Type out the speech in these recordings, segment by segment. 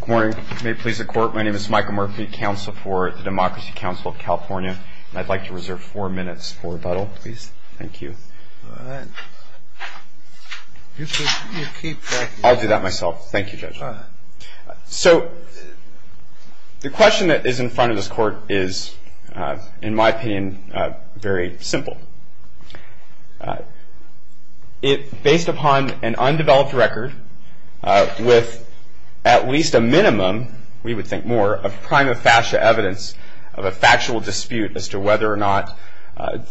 Good morning. May it please the Court, my name is Michael Murphy, Counsel for the Democracy Council of California, and I'd like to reserve four minutes for rebuttal, please. Thank you. All right. You keep that. I'll do that myself. Thank you, Judge. So the question that is in front of this Court is, in my opinion, very simple. Based upon an undeveloped record, with at least a minimum, we would think more, of prima facie evidence of a factual dispute as to whether or not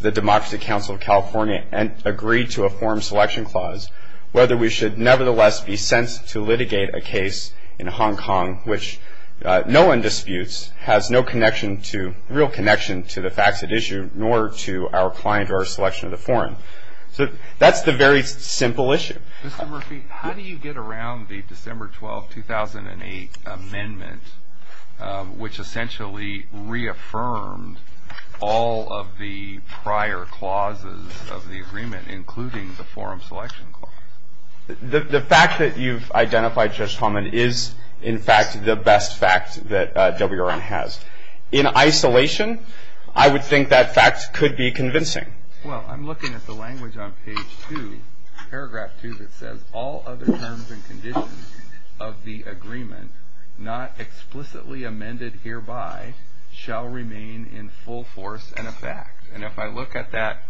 the Democracy Council of California agreed to a form selection clause, whether we should nevertheless be sent to litigate a case in Hong Kong which no one disputes, has no real connection to the facts at issue, nor to our client or our selection of the forum. So that's the very simple issue. Mr. Murphy, how do you get around the December 12, 2008 amendment, which essentially reaffirmed all of the prior clauses of the agreement, including the forum selection clause? The fact that you've identified, Judge Tomlin, is in fact the best fact that WRN has. In isolation, I would think that fact could be convincing. Well, I'm looking at the language on page 2, paragraph 2, that says, all other terms and conditions of the agreement not explicitly amended hereby shall remain in full force and effect. And if I look at that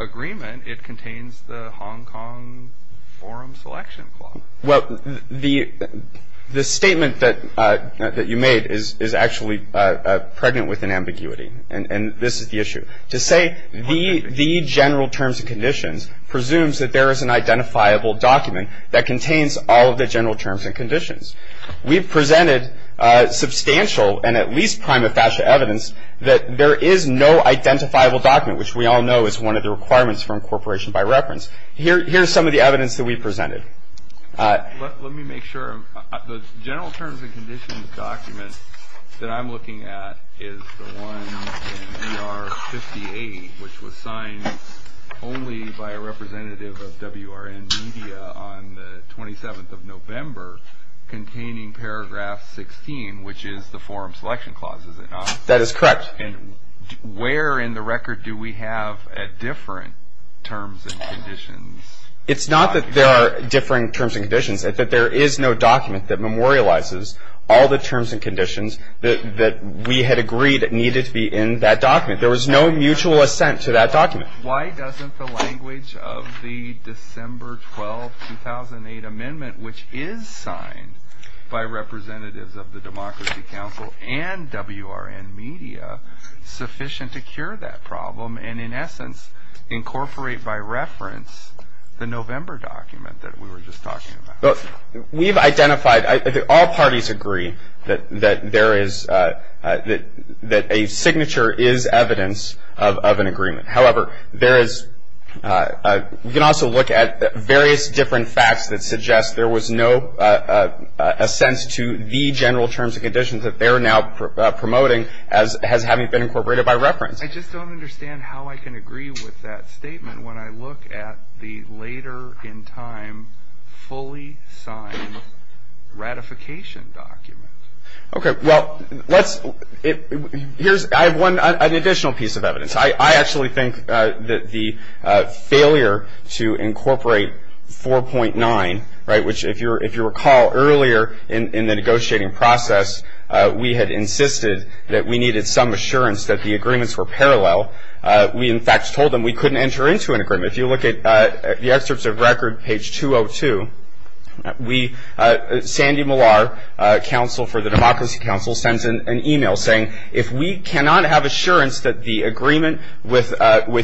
agreement, it contains the Hong Kong forum selection clause. Well, the statement that you made is actually pregnant with an ambiguity, and this is the issue. To say the general terms and conditions presumes that there is an identifiable document that contains all of the general terms and conditions. We've presented substantial and at least prima facie evidence that there is no identifiable document, which we all know is one of the requirements for incorporation by reference. Here's some of the evidence that we've presented. Let me make sure. The general terms and conditions document that I'm looking at is the one in AR 58, which was signed only by a representative of WRN media on the 27th of November, containing paragraph 16, which is the forum selection clause, is it not? That is correct. And where in the record do we have a different terms and conditions document? It's not that there are different terms and conditions, it's that there is no document that memorializes all the terms and conditions that we had agreed needed to be in that document. There was no mutual assent to that document. Why doesn't the language of the December 12, 2008 amendment, which is signed by representatives of the Democracy Council and WRN media, sufficient to cure that problem and in essence incorporate by reference the November document that we were just talking about? We've identified, all parties agree, that a signature is evidence of an agreement. However, we can also look at various different facts that suggest there was no assent to the general terms and conditions that they're now promoting as having been incorporated by reference. I just don't understand how I can agree with that statement when I look at the later in time fully signed ratification document. Okay, well, I have an additional piece of evidence. I actually think that the failure to incorporate 4.9, right, which if you recall earlier in the negotiating process, we had insisted that we needed some assurance that the agreements were parallel. We, in fact, told them we couldn't enter into an agreement. If you look at the excerpts of record, page 202, Sandy Millar, counsel for the Democracy Council, sends an email saying, if we cannot have assurance that the agreement with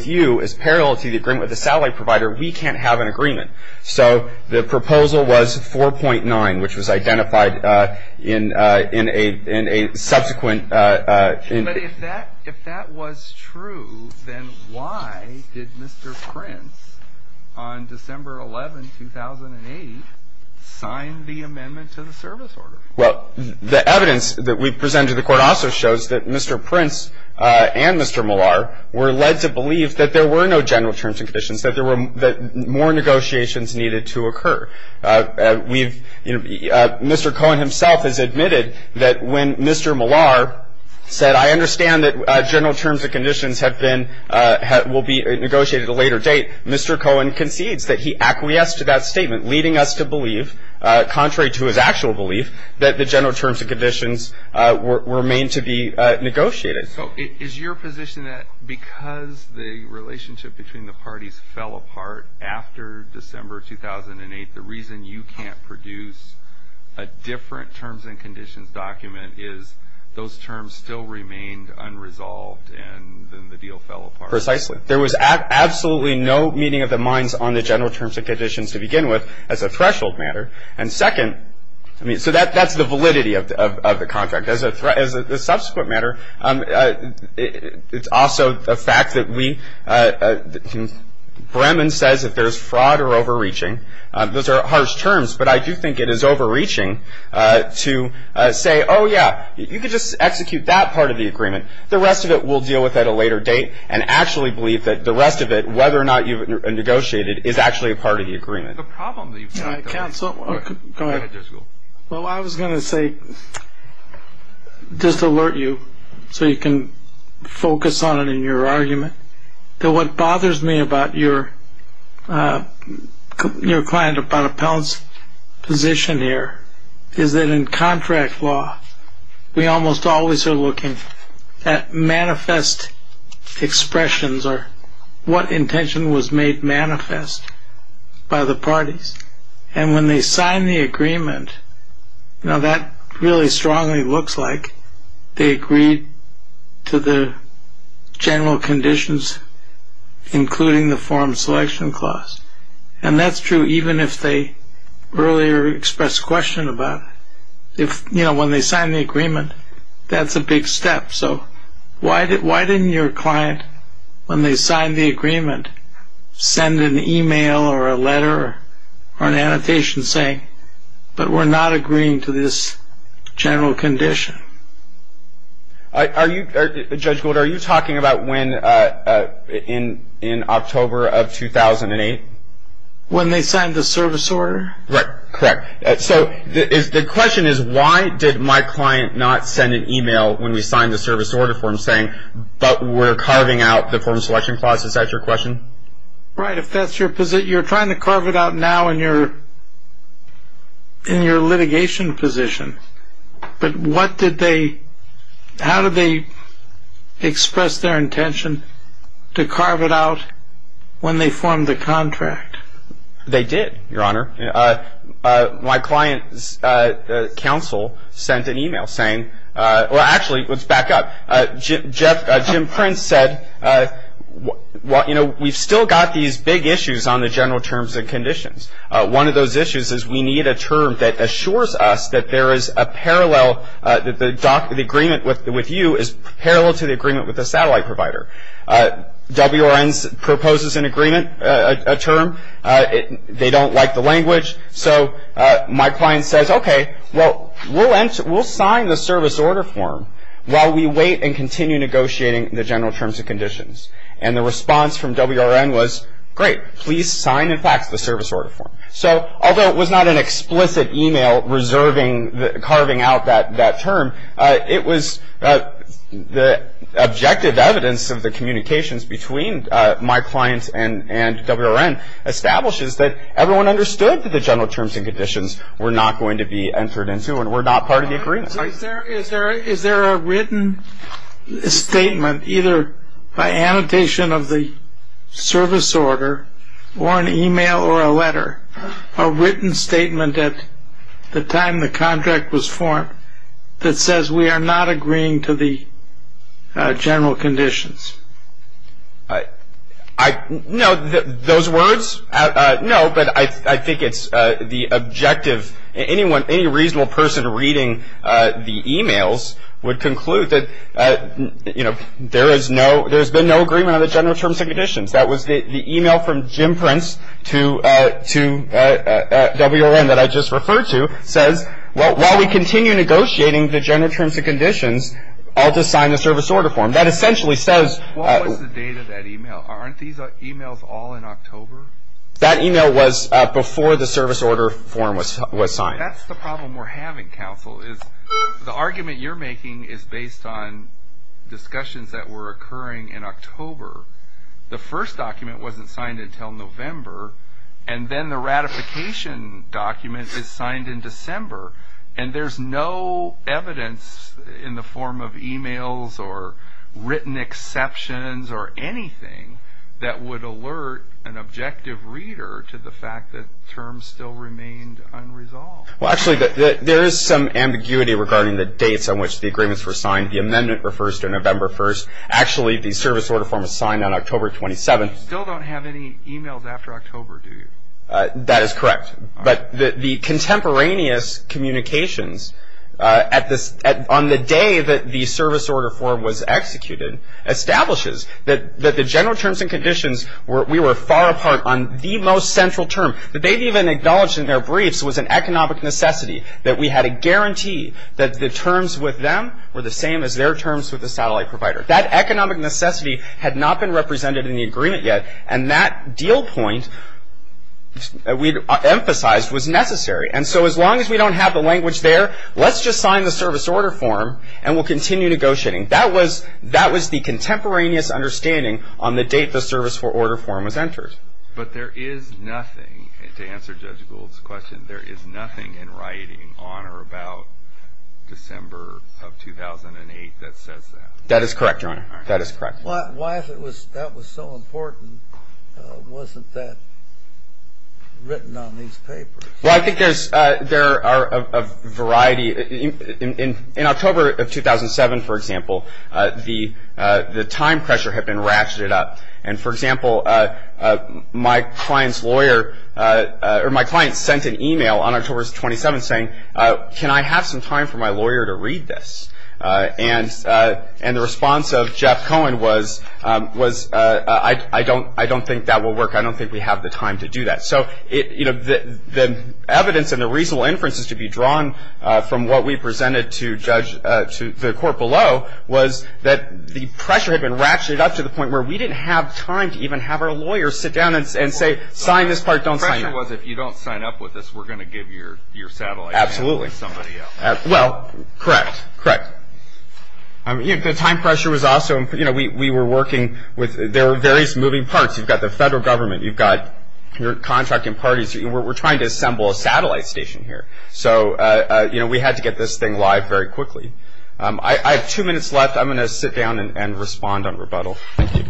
you is parallel to the agreement with the satellite provider, we can't have an agreement. So the proposal was 4.9, which was identified in a subsequent. But if that was true, then why did Mr. Prince on December 11, 2008, sign the amendment to the service order? Well, the evidence that we presented to the court also shows that Mr. Prince and Mr. Millar were led to believe that there were no general terms and conditions, that more negotiations needed to occur. Mr. Cohen himself has admitted that when Mr. Millar said, I understand that general terms and conditions will be negotiated at a later date, Mr. Cohen concedes that he acquiesced to that statement, leading us to believe, contrary to his actual belief, that the general terms and conditions remain to be negotiated. So is your position that because the relationship between the parties fell apart after December 2008, the reason you can't produce a different terms and conditions document is those terms still remained unresolved and then the deal fell apart? Precisely. There was absolutely no meeting of the minds on the general terms and conditions to begin with as a threshold matter. And second, I mean, so that's the validity of the contract. As a subsequent matter, it's also the fact that Bremen says that there's fraud or overreaching. Those are harsh terms, but I do think it is overreaching to say, oh, yeah, you could just execute that part of the agreement. The rest of it we'll deal with at a later date and actually believe that the rest of it, whether or not you've negotiated, is actually a part of the agreement. Counsel, go ahead. Well, I was going to say, just to alert you so you can focus on it in your argument, that what bothers me about your client, about Appellant's position here, is that in contract law we almost always are looking at manifest expressions or what intention was made manifest by the parties. And when they sign the agreement, that really strongly looks like they agreed to the general conditions, including the forum selection clause. And that's true even if they earlier expressed question about it. When they sign the agreement, that's a big step. So why didn't your client, when they signed the agreement, send an email or a letter or an annotation saying, but we're not agreeing to this general condition? Judge Gould, are you talking about when, in October of 2008? When they signed the service order? Correct. Correct. So the question is, why did my client not send an email when we signed the service order for him saying, but we're carving out the forum selection clause? Is that your question? Right. You're trying to carve it out now in your litigation position. But how did they express their intention to carve it out when they formed the contract? They did, Your Honor. My client's counsel sent an email saying, well, actually, let's back up. Jim Prince said, you know, we've still got these big issues on the general terms and conditions. One of those issues is we need a term that assures us that there is a parallel, that the agreement with you is parallel to the agreement with the satellite provider. WRN proposes an agreement, a term. They don't like the language. So my client says, okay, well, we'll sign the service order form while we wait and continue negotiating the general terms and conditions. And the response from WRN was, great, please sign and fax the service order form. So although it was not an explicit email carving out that term, it was the objective evidence of the communications between my client and WRN establishes that everyone understood that the general terms and conditions were not going to be entered into and were not part of the agreement. Is there a written statement, either by annotation of the service order or an email or a letter, a written statement at the time the contract was formed that says, we are not agreeing to the general conditions? No, those words, no, but I think it's the objective. Any reasonable person reading the emails would conclude that, you know, there has been no agreement on the general terms and conditions. That was the email from Jim Prince to WRN that I just referred to, says, well, while we continue negotiating the general terms and conditions, I'll just sign the service order form. That essentially says. What was the date of that email? Aren't these emails all in October? That email was before the service order form was signed. That's the problem we're having, counsel, is the argument you're making is based on discussions that were occurring in October. The first document wasn't signed until November, and then the ratification document is signed in December, and there's no evidence in the form of emails or written exceptions or anything that would alert an objective reader to the fact that terms still remained unresolved. Well, actually, there is some ambiguity regarding the dates on which the agreements were signed. The amendment refers to November 1st. Actually, the service order form was signed on October 27th. You still don't have any emails after October, do you? That is correct. But the contemporaneous communications on the day that the service order form was executed establishes that the general terms and conditions, we were far apart on the most central term. The date even acknowledged in their briefs was an economic necessity, that we had a guarantee that the terms with them were the same as their terms with the satellite provider. That economic necessity had not been represented in the agreement yet, and that deal point we emphasized was necessary. And so as long as we don't have the language there, let's just sign the service order form and we'll continue negotiating. That was the contemporaneous understanding on the date the service order form was entered. But there is nothing, to answer Judge Gould's question, there is nothing in writing on or about December of 2008 that says that. That is correct, Your Honor. That is correct. Why, if that was so important, wasn't that written on these papers? Well, I think there are a variety. In October of 2007, for example, the time pressure had been ratcheted up. And, for example, my client's lawyer or my client sent an email on October 27th saying, can I have some time for my lawyer to read this? And the response of Jeff Cohen was, I don't think that will work. I don't think we have the time to do that. So the evidence and the reasonable inferences to be drawn from what we presented to the court below was that the pressure had been ratcheted up to the point where we didn't have time to even have our lawyers sit down and say, sign this part, don't sign it. So the idea was, if you don't sign up with us, we're going to give your satellite station to somebody else. Absolutely. Well, correct. Correct. The time pressure was also – we were working with – there were various moving parts. You've got the federal government. You've got your contracting parties. We're trying to assemble a satellite station here. So we had to get this thing live very quickly. I have two minutes left. I'm going to sit down and respond on rebuttal. Thank you.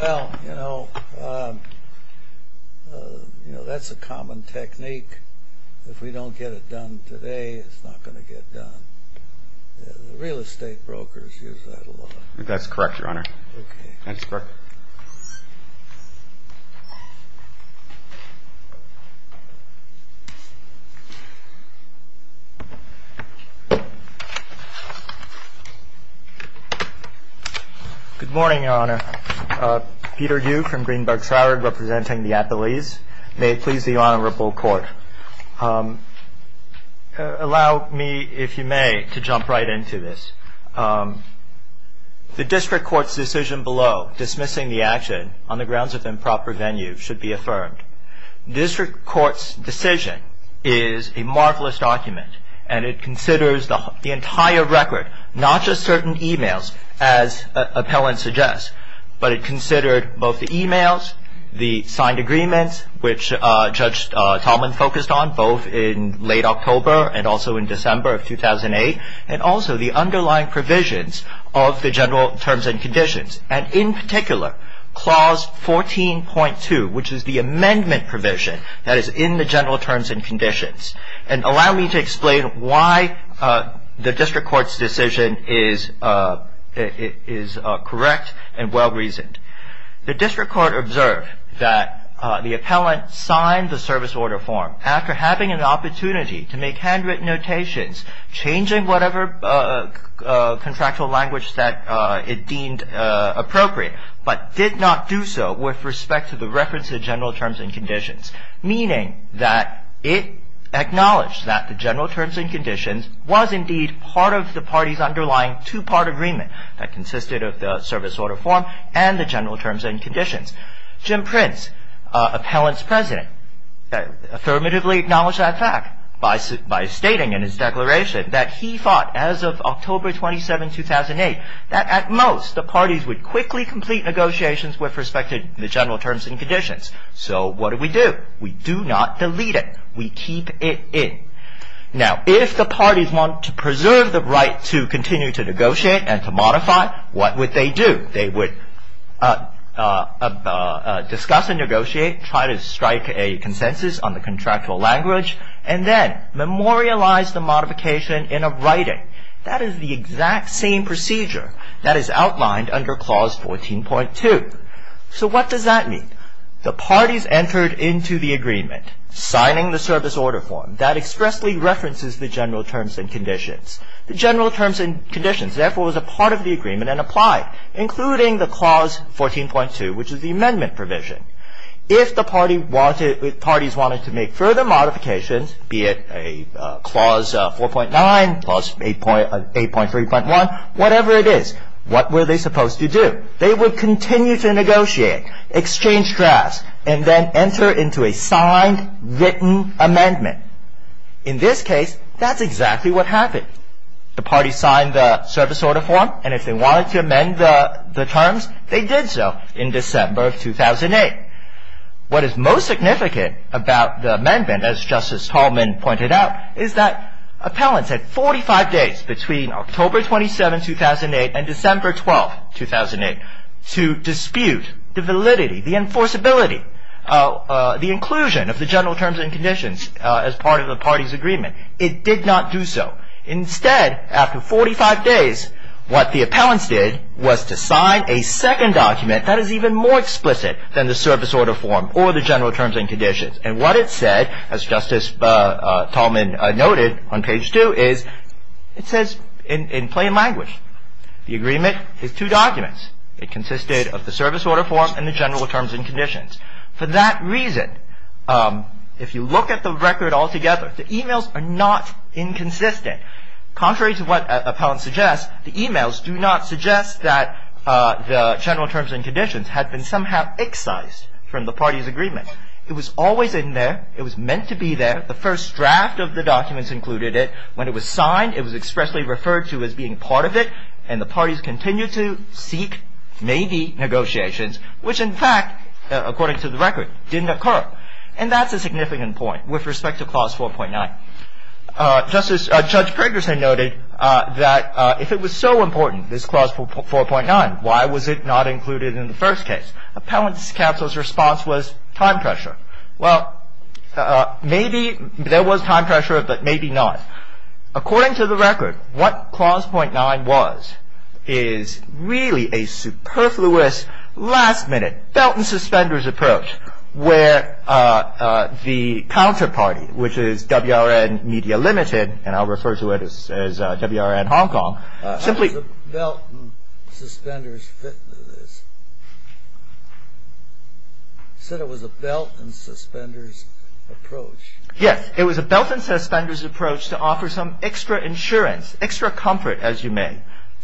Well, you know, that's a common technique. If we don't get it done today, it's not going to get done. The real estate brokers use that a lot. That's correct, Your Honor. Okay. Thanks, Burke. Good morning, Your Honor. Peter Yu from Greenberg Troward, representing the appellees. May it please the Honorable Court, allow me, if you may, to jump right into this. The district court's decision below, dismissing the district court's decision, on the grounds of improper venue, should be affirmed. District court's decision is a marvelous document, and it considers the entire record, not just certain e-mails, as appellant suggests, but it considered both the e-mails, the signed agreements, which Judge Tallman focused on, both in late October and also in December of 2008, and also the underlying provisions of the general terms and conditions, and in particular, Clause 14.2, which is the amendment provision that is in the general terms and conditions. And allow me to explain why the district court's decision is correct and well-reasoned. The district court observed that the appellant signed the service order form after having an opportunity to make handwritten notations, changing whatever contractual language that it deemed appropriate, but did not do so with respect to the reference to the general terms and conditions, meaning that it acknowledged that the general terms and conditions was indeed part of the party's underlying two-part agreement that consisted of the service order form and the general terms and conditions. Jim Prince, appellant's president, affirmatively acknowledged that fact by stating in his declaration that he thought as of October 27, 2008, that at most the parties would quickly complete negotiations with respect to the general terms and conditions. So what do we do? We do not delete it. We keep it in. Now, if the parties want to preserve the right to continue to negotiate and to modify, what would they do? They would discuss and negotiate, try to strike a consensus on the contractual language, and then memorialize the modification in a writing. That is the exact same procedure that is outlined under Clause 14.2. So what does that mean? The parties entered into the agreement signing the service order form that expressly references the general terms and conditions. The general terms and conditions, therefore, was a part of the agreement and applied, including the Clause 14.2, which is the amendment provision. If the parties wanted to make further modifications, be it a Clause 4.9, Clause 8.3.1, whatever it is, what were they supposed to do? They would continue to negotiate, exchange drafts, and then enter into a signed, written amendment. In this case, that's exactly what happened. The parties signed the service order form, and if they wanted to amend the terms, they did so in December of 2008. What is most significant about the amendment, as Justice Tallman pointed out, is that appellants had 45 days between October 27, 2008, and December 12, 2008, to dispute the validity, the enforceability, the inclusion of the general terms and conditions as part of the parties' agreement. It did not do so. Instead, after 45 days, what the appellants did was to sign a second document that is even more explicit than the service order form or the general terms and conditions. And what it said, as Justice Tallman noted on page 2, is it says in plain language, the agreement is two documents. It consisted of the service order form and the general terms and conditions. For that reason, if you look at the record altogether, the emails are not inconsistent. Contrary to what appellants suggest, the emails do not suggest that the general terms and conditions had been somehow excised from the parties' agreement. It was always in there. It was meant to be there. The first draft of the documents included it. When it was signed, it was expressly referred to as being part of it, and the parties continued to seek, maybe, negotiations, which, in fact, according to the record, didn't occur. And that's a significant point with respect to Clause 4.9. Judge Pergersen noted that if it was so important, this Clause 4.9, why was it not included in the first case? Appellants' counsel's response was time pressure. Well, maybe there was time pressure, but maybe not. According to the record, what Clause 4.9 was is really a superfluous, last-minute, belt-and-suspenders approach, where the counterparty, which is WRN Media Ltd., and I'll refer to it as WRN Hong Kong, simply... It was a belt-and-suspenders... You said it was a belt-and-suspenders approach. Yes, it was a belt-and-suspenders approach to offer some extra insurance, extra comfort, as you may,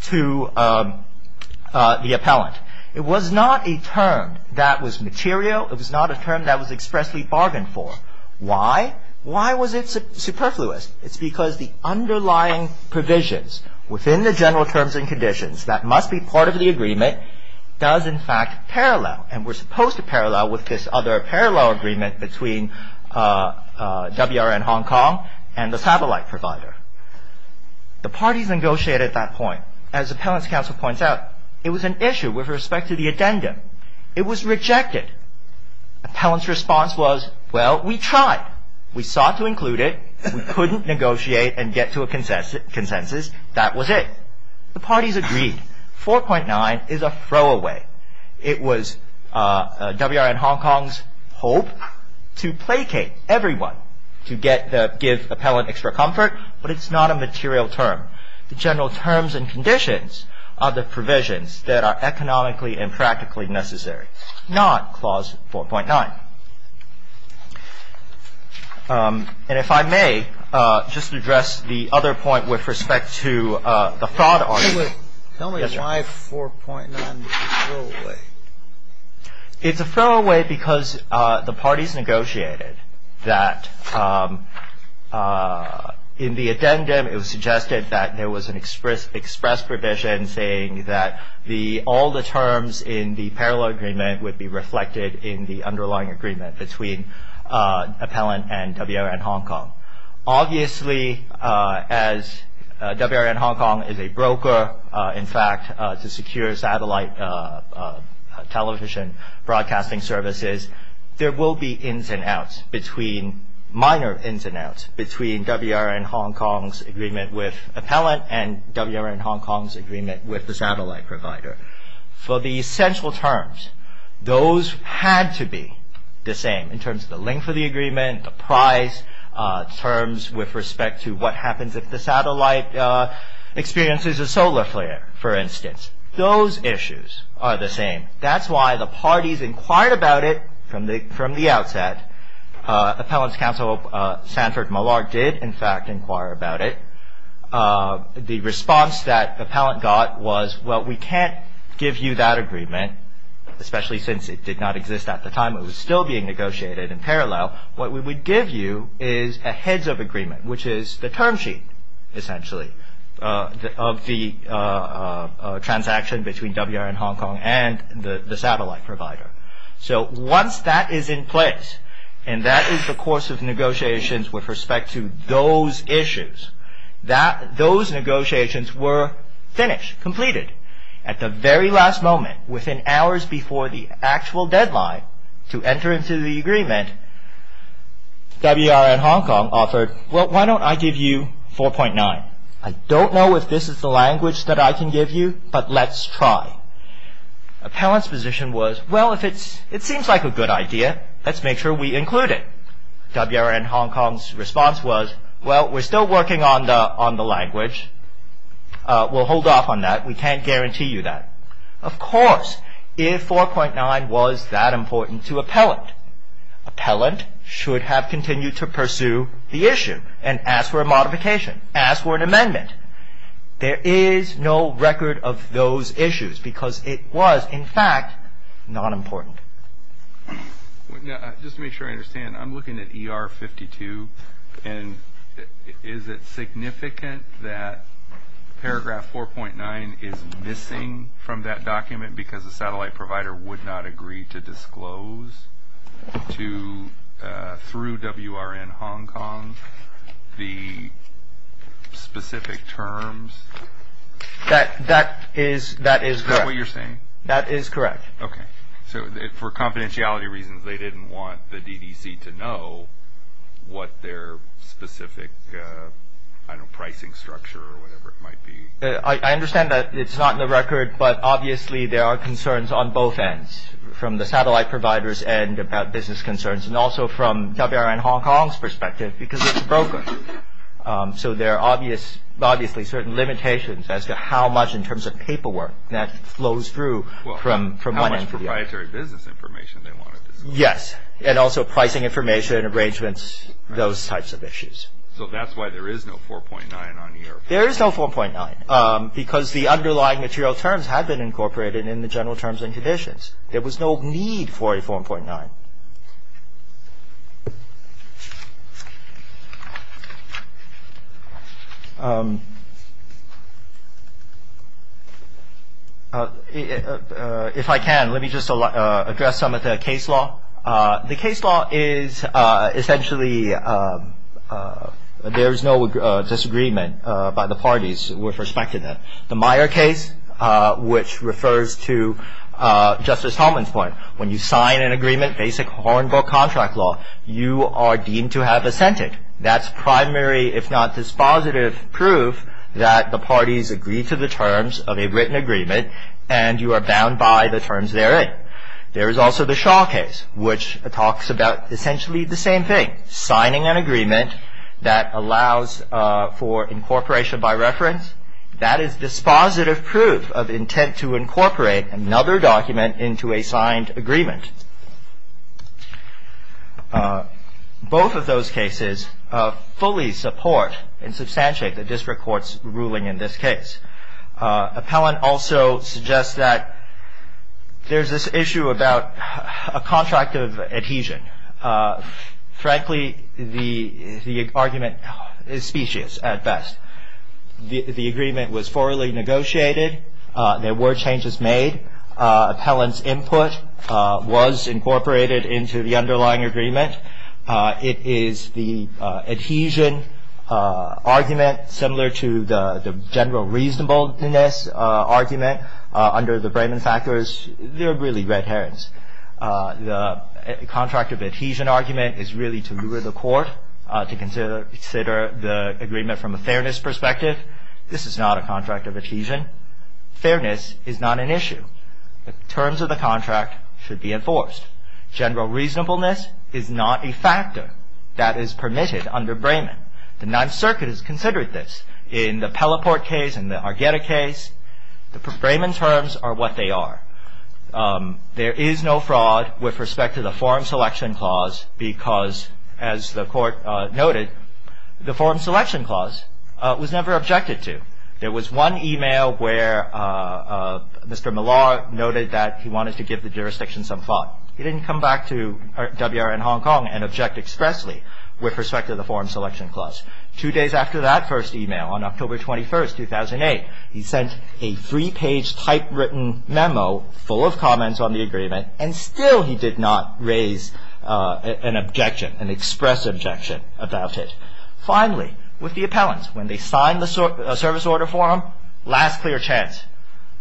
to the appellant. It was not a term that was material. It was not a term that was expressly bargained for. Why? Why was it superfluous? It's because the underlying provisions within the general terms and conditions that must be part of the agreement does, in fact, parallel, and were supposed to parallel with this other parallel agreement between WRN Hong Kong and the satellite provider. The parties negotiated that point. As appellant's counsel points out, it was an issue with respect to the addendum. It was rejected. Appellant's response was, well, we tried. We sought to include it. We couldn't negotiate and get to a consensus. That was it. The parties agreed. 4.9 is a throwaway. It was WRN Hong Kong's hope to placate everyone, to give appellant extra comfort, but it's not a material term. The general terms and conditions are the provisions that are economically and practically necessary, not Clause 4.9. And if I may just address the other point with respect to the fraud argument. Tell me why 4.9 is a throwaway. It's a throwaway because the parties negotiated that in the addendum it was suggested that there was an express provision saying that all the terms in the parallel agreement would be reflected in the underlying agreement between appellant and WRN Hong Kong. Obviously, as WRN Hong Kong is a broker, in fact, to secure satellite television broadcasting services, there will be ins and outs, minor ins and outs, between WRN Hong Kong's agreement with appellant and WRN Hong Kong's agreement with the satellite provider. For the essential terms, those had to be the same, in terms of the length of the agreement, the price, terms with respect to what happens if the satellite experiences a solar flare, for instance. Those issues are the same. That's why the parties inquired about it from the outset. Appellant's counsel, Sanford Malark, did, in fact, inquire about it. The response that appellant got was, well, we can't give you that agreement, especially since it did not exist at the time. It was still being negotiated in parallel. What we would give you is a heads-up agreement, which is the term sheet, essentially, of the transaction between WRN Hong Kong and the satellite provider. Once that is in place, and that is the course of negotiations with respect to those issues, those negotiations were finished, completed. At the very last moment, within hours before the actual deadline to enter into the agreement, WRN Hong Kong offered, well, why don't I give you 4.9? I don't know if this is the language that I can give you, but let's try. Appellant's position was, well, if it seems like a good idea, let's make sure we include it. WRN Hong Kong's response was, well, we're still working on the language. We'll hold off on that. We can't guarantee you that. Of course, if 4.9 was that important to appellant, appellant should have continued to pursue the issue and ask for a modification, ask for an amendment. There is no record of those issues because it was, in fact, not important. Just to make sure I understand, I'm looking at ER 52, and is it significant that paragraph 4.9 is missing from that document because the satellite provider would not agree to disclose to, through WRN Hong Kong, the specific terms? That is correct. Is that what you're saying? That is correct. Okay, so for confidentiality reasons, they didn't want the DDC to know what their specific, I don't know, pricing structure or whatever it might be. I understand that it's not in the record, but obviously there are concerns on both ends, from the satellite provider's end about business concerns and also from WRN Hong Kong's perspective because it's broken. So there are obviously certain limitations as to how much in terms of paperwork that flows through from one end to the other. Well, how much proprietary business information they wanted to see. Yes, and also pricing information, arrangements, those types of issues. So that's why there is no 4.9 on here. There is no 4.9 because the underlying material terms had been incorporated in the general terms and conditions. There was no need for a 4.9. If I can, let me just address some of the case law. The case law is essentially, there is no disagreement by the parties with respect to that. The Meyer case, which refers to Justice Tomlin's point, when you sign an agreement, basic horn book contract law, you are deemed to have assented. That's primary, if not dispositive, proof that the parties agree to the terms of a written agreement and you are bound by the terms therein. There is also the Shaw case, which talks about essentially the same thing, signing an agreement that allows for incorporation by reference. That is dispositive proof of intent to incorporate another document into a signed agreement. Both of those cases fully support and substantiate the district court's ruling in this case. Appellant also suggests that there is this issue about a contract of adhesion. Frankly, the argument is specious at best. The agreement was formally negotiated. There were changes made. Appellant's input was incorporated into the underlying agreement. It is the adhesion argument similar to the general reasonableness argument under the Brayman factors. They're really red herrings. The contract of adhesion argument is really to lure the court to consider the agreement from a fairness perspective. This is not a contract of adhesion. Fairness is not an issue. The terms of the contract should be enforced. General reasonableness is not a factor that is permitted under Brayman. The Ninth Circuit has considered this. In the Pelleport case and the Argueta case, the Brayman terms are what they are. There is no fraud with respect to the forum selection clause because, as the court noted, the forum selection clause was never objected to. There was one email where Mr. Millar noted that he wanted to give the jurisdiction some thought. He didn't come back to WRN Hong Kong and object expressly with respect to the forum selection clause. Two days after that first email, on October 21st, 2008, he sent a three-page typewritten memo full of comments on the agreement, and still he did not raise an objection, an express objection about it. Finally, with the appellant, when they signed the service order for him, last clear chance.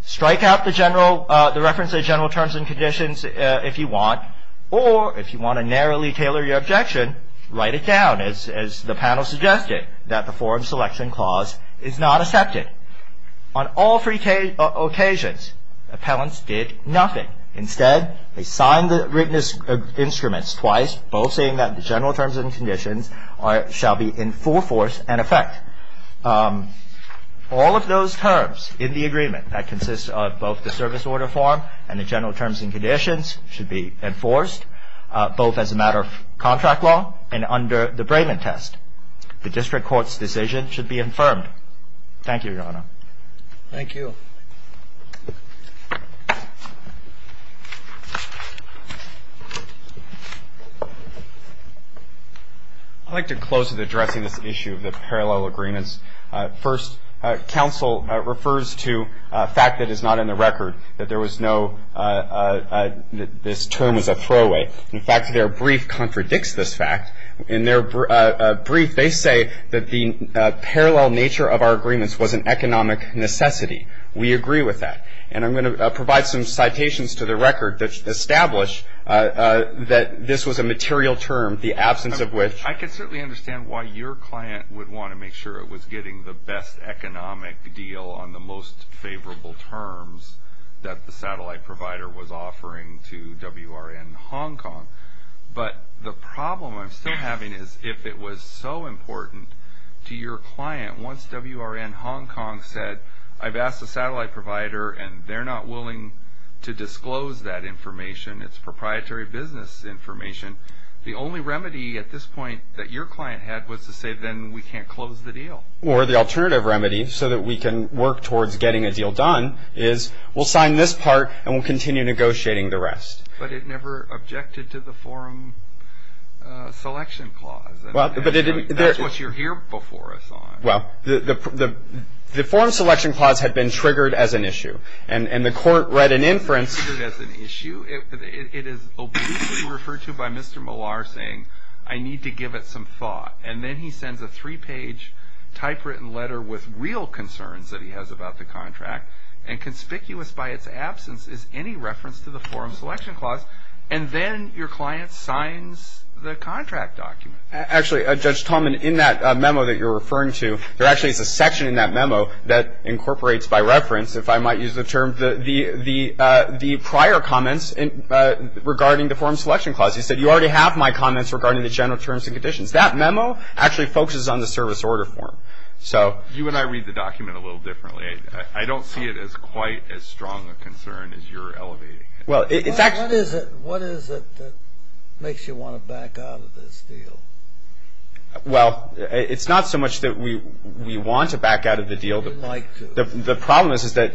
Strike out the reference of general terms and conditions if you want, or if you want to narrowly tailor your objection, write it down, as the panel suggested, that the forum selection clause is not accepted. On all three occasions, appellants did nothing. Instead, they signed the written instruments twice, both saying that the general terms and conditions shall be in full force and effect. All of those terms in the agreement that consist of both the service order form and the general terms and conditions should be enforced, both as a matter of contract law and under the Brayman test. The district court's decision should be affirmed. Thank you, Your Honor. Thank you. I'd like to close with addressing this issue of the parallel agreements. First, counsel refers to a fact that is not in the record, that there was no this term was a throwaway. In fact, their brief contradicts this fact. In their brief, they say that the parallel nature of our agreements was an economic necessity. We agree with that. And I'm going to provide some citations to the record that establish that this was a material term, the absence of which. I can certainly understand why your client would want to make sure it was getting the best economic deal on the most favorable terms that the satellite provider was offering to WRN Hong Kong. But the problem I'm still having is if it was so important to your client, once WRN Hong Kong said, I've asked the satellite provider and they're not willing to disclose that information. It's proprietary business information. The only remedy at this point that your client had was to say then we can't close the deal. Or the alternative remedy so that we can work towards getting a deal done is we'll sign this part and we'll continue negotiating the rest. But it never objected to the forum selection clause. That's what you're here before us on. Well, the forum selection clause had been triggered as an issue. And the court read an inference. Triggered as an issue? It is obliquely referred to by Mr. Millar saying I need to give it some thought. And then he sends a three-page typewritten letter with real concerns that he has about the contract. And conspicuous by its absence is any reference to the forum selection clause. And then your client signs the contract document. Actually, Judge Talman, in that memo that you're referring to, there actually is a section in that memo that incorporates by reference, if I might use the term, the prior comments regarding the forum selection clause. You said you already have my comments regarding the general terms and conditions. That memo actually focuses on the service order form. You and I read the document a little differently. I don't see it as quite as strong a concern as you're elevating it. What is it that makes you want to back out of this deal? Well, it's not so much that we want to back out of the deal. We'd like to. The problem is that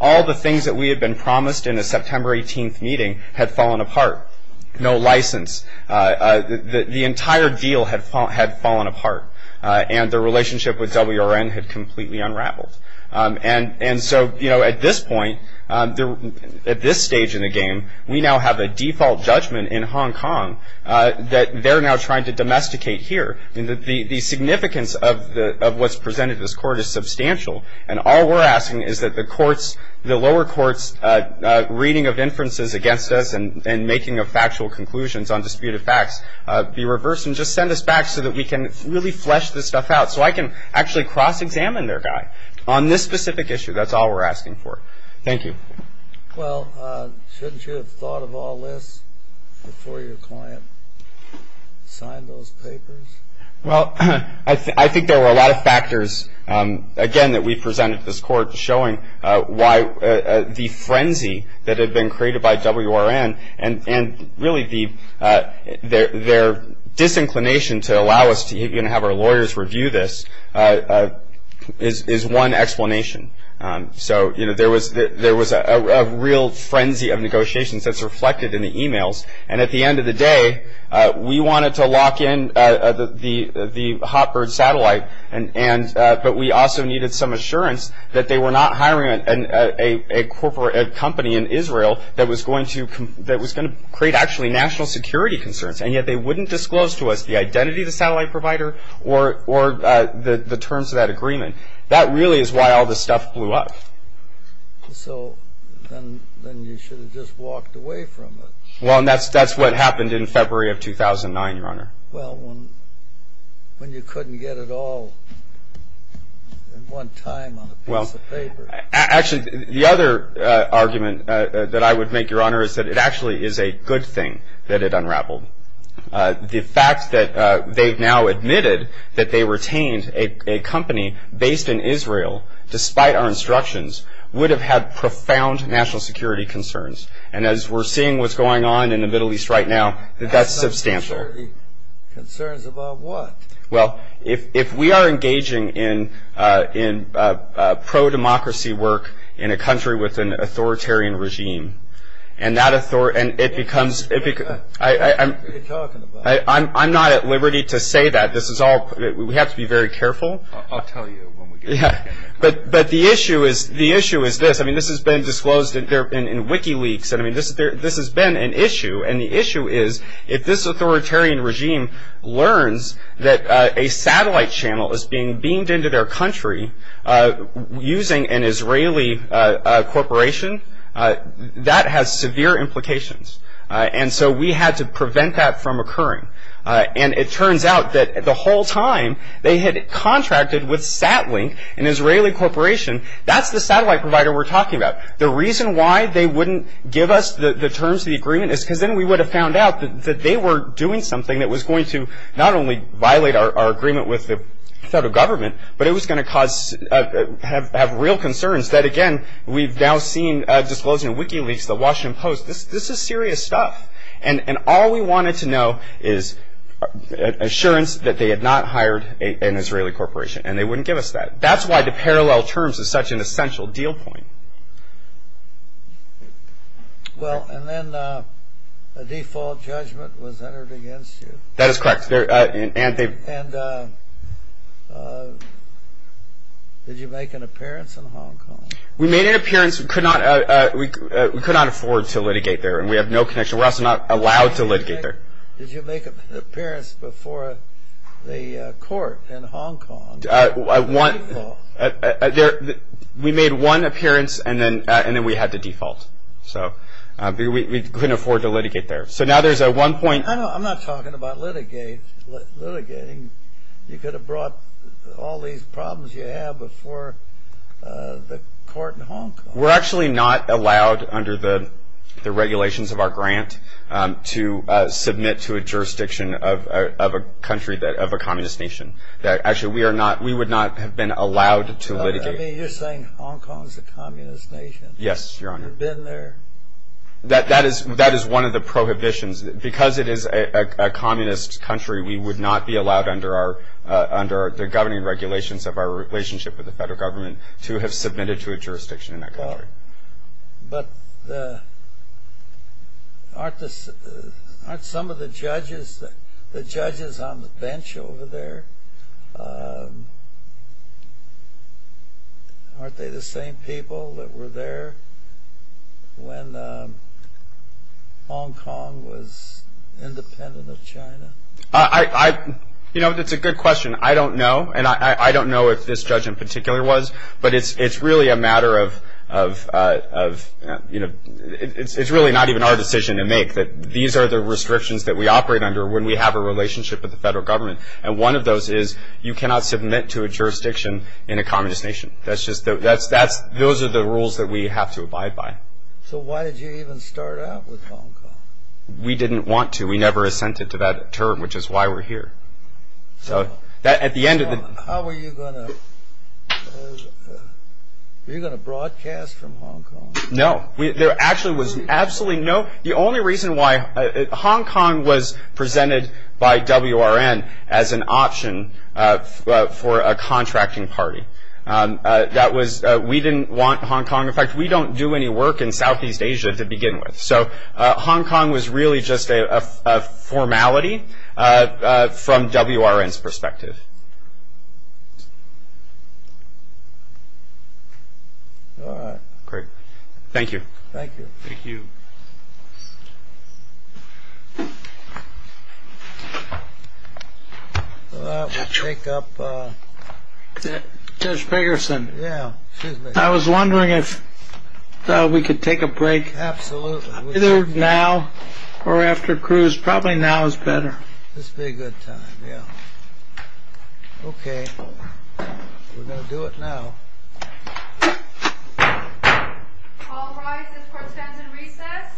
all the things that we had been promised in the September 18th meeting had fallen apart. No license. The entire deal had fallen apart. And the relationship with WRN had completely unraveled. And so, you know, at this point, at this stage in the game, we now have a default judgment in Hong Kong that they're now trying to domesticate here. The significance of what's presented in this court is substantial. And all we're asking is that the courts, the lower courts' reading of inferences against us and making factual conclusions on disputed facts be reversed and just send us back so that we can really flesh this stuff out so I can actually cross-examine their guy. On this specific issue, that's all we're asking for. Thank you. Well, shouldn't you have thought of all this before your client signed those papers? Well, I think there were a lot of factors, again, that we presented to this court showing why the frenzy that had been created by WRN and really their disinclination to allow us to even have our lawyers review this is one explanation. So, you know, there was a real frenzy of negotiations that's reflected in the e-mails. And at the end of the day, we wanted to lock in the Hotbird satellite, but we also needed some assurance that they were not hiring a company in Israel that was going to create actually national security concerns, and yet they wouldn't disclose to us the identity of the satellite provider or the terms of that agreement. That really is why all this stuff blew up. So then you should have just walked away from it. Well, and that's what happened in February of 2009, Your Honor. Well, when you couldn't get it all in one time on a piece of paper. Actually, the other argument that I would make, Your Honor, is that it actually is a good thing that it unraveled. The fact that they've now admitted that they retained a company based in Israel, despite our instructions, would have had profound national security concerns. And as we're seeing what's going on in the Middle East right now, that's substantial. National security concerns about what? Well, if we are engaging in pro-democracy work in a country with an authoritarian regime, and it becomes – I'm not at liberty to say that. This is all – we have to be very careful. I'll tell you when we get there. But the issue is this. I mean, this has been disclosed in WikiLeaks. I mean, this has been an issue. And the issue is if this authoritarian regime learns that a satellite channel is being beamed into their country using an Israeli corporation, that has severe implications. And so we had to prevent that from occurring. And it turns out that the whole time they had contracted with SatLink, an Israeli corporation, that's the satellite provider we're talking about. The reason why they wouldn't give us the terms of the agreement is because then we would have found out that they were doing something that was going to not only violate our agreement with the federal government, but it was going to cause – have real concerns that, again, we've now seen disclosed in WikiLeaks, the Washington Post. This is serious stuff. And all we wanted to know is assurance that they had not hired an Israeli corporation. And they wouldn't give us that. That's why the parallel terms is such an essential deal point. Well, and then a default judgment was entered against you. That is correct. And did you make an appearance in Hong Kong? We made an appearance. We could not afford to litigate there, and we have no connection. We're also not allowed to litigate there. Did you make an appearance before the court in Hong Kong? We made one appearance, and then we had to default. We couldn't afford to litigate there. I'm not talking about litigating. You could have brought all these problems you have before the court in Hong Kong. We're actually not allowed under the regulations of our grant to submit to a jurisdiction of a communist nation. Actually, we would not have been allowed to litigate. I mean, you're saying Hong Kong is a communist nation. Yes, Your Honor. You've been there. That is one of the prohibitions. Because it is a communist country, we would not be allowed under the governing regulations of our relationship with the federal government to have submitted to a jurisdiction in that country. But aren't some of the judges on the bench over there, aren't they the same people that were there when Hong Kong was independent of China? You know, that's a good question. I don't know, and I don't know if this judge in particular was, but it's really a matter of, you know, it's really not even our decision to make. These are the restrictions that we operate under when we have a relationship with the federal government. And one of those is you cannot submit to a jurisdiction in a communist nation. Those are the rules that we have to abide by. So why did you even start out with Hong Kong? We didn't want to. We never assented to that term, which is why we're here. How were you going to broadcast from Hong Kong? No, there actually was absolutely no, the only reason why Hong Kong was presented by WRN as an option for a contracting party. We didn't want Hong Kong. In fact, we don't do any work in Southeast Asia to begin with. So Hong Kong was really just a formality from WRN's perspective. Great. Thank you. Thank you. Thank you. We'll take up Judge Fagerson. Yeah, excuse me. I was wondering if we could take a break. Absolutely. Either now or after cruise. Probably now is better. This would be a good time, yeah. Okay. We're going to do it now. All rise. This court stands in recess.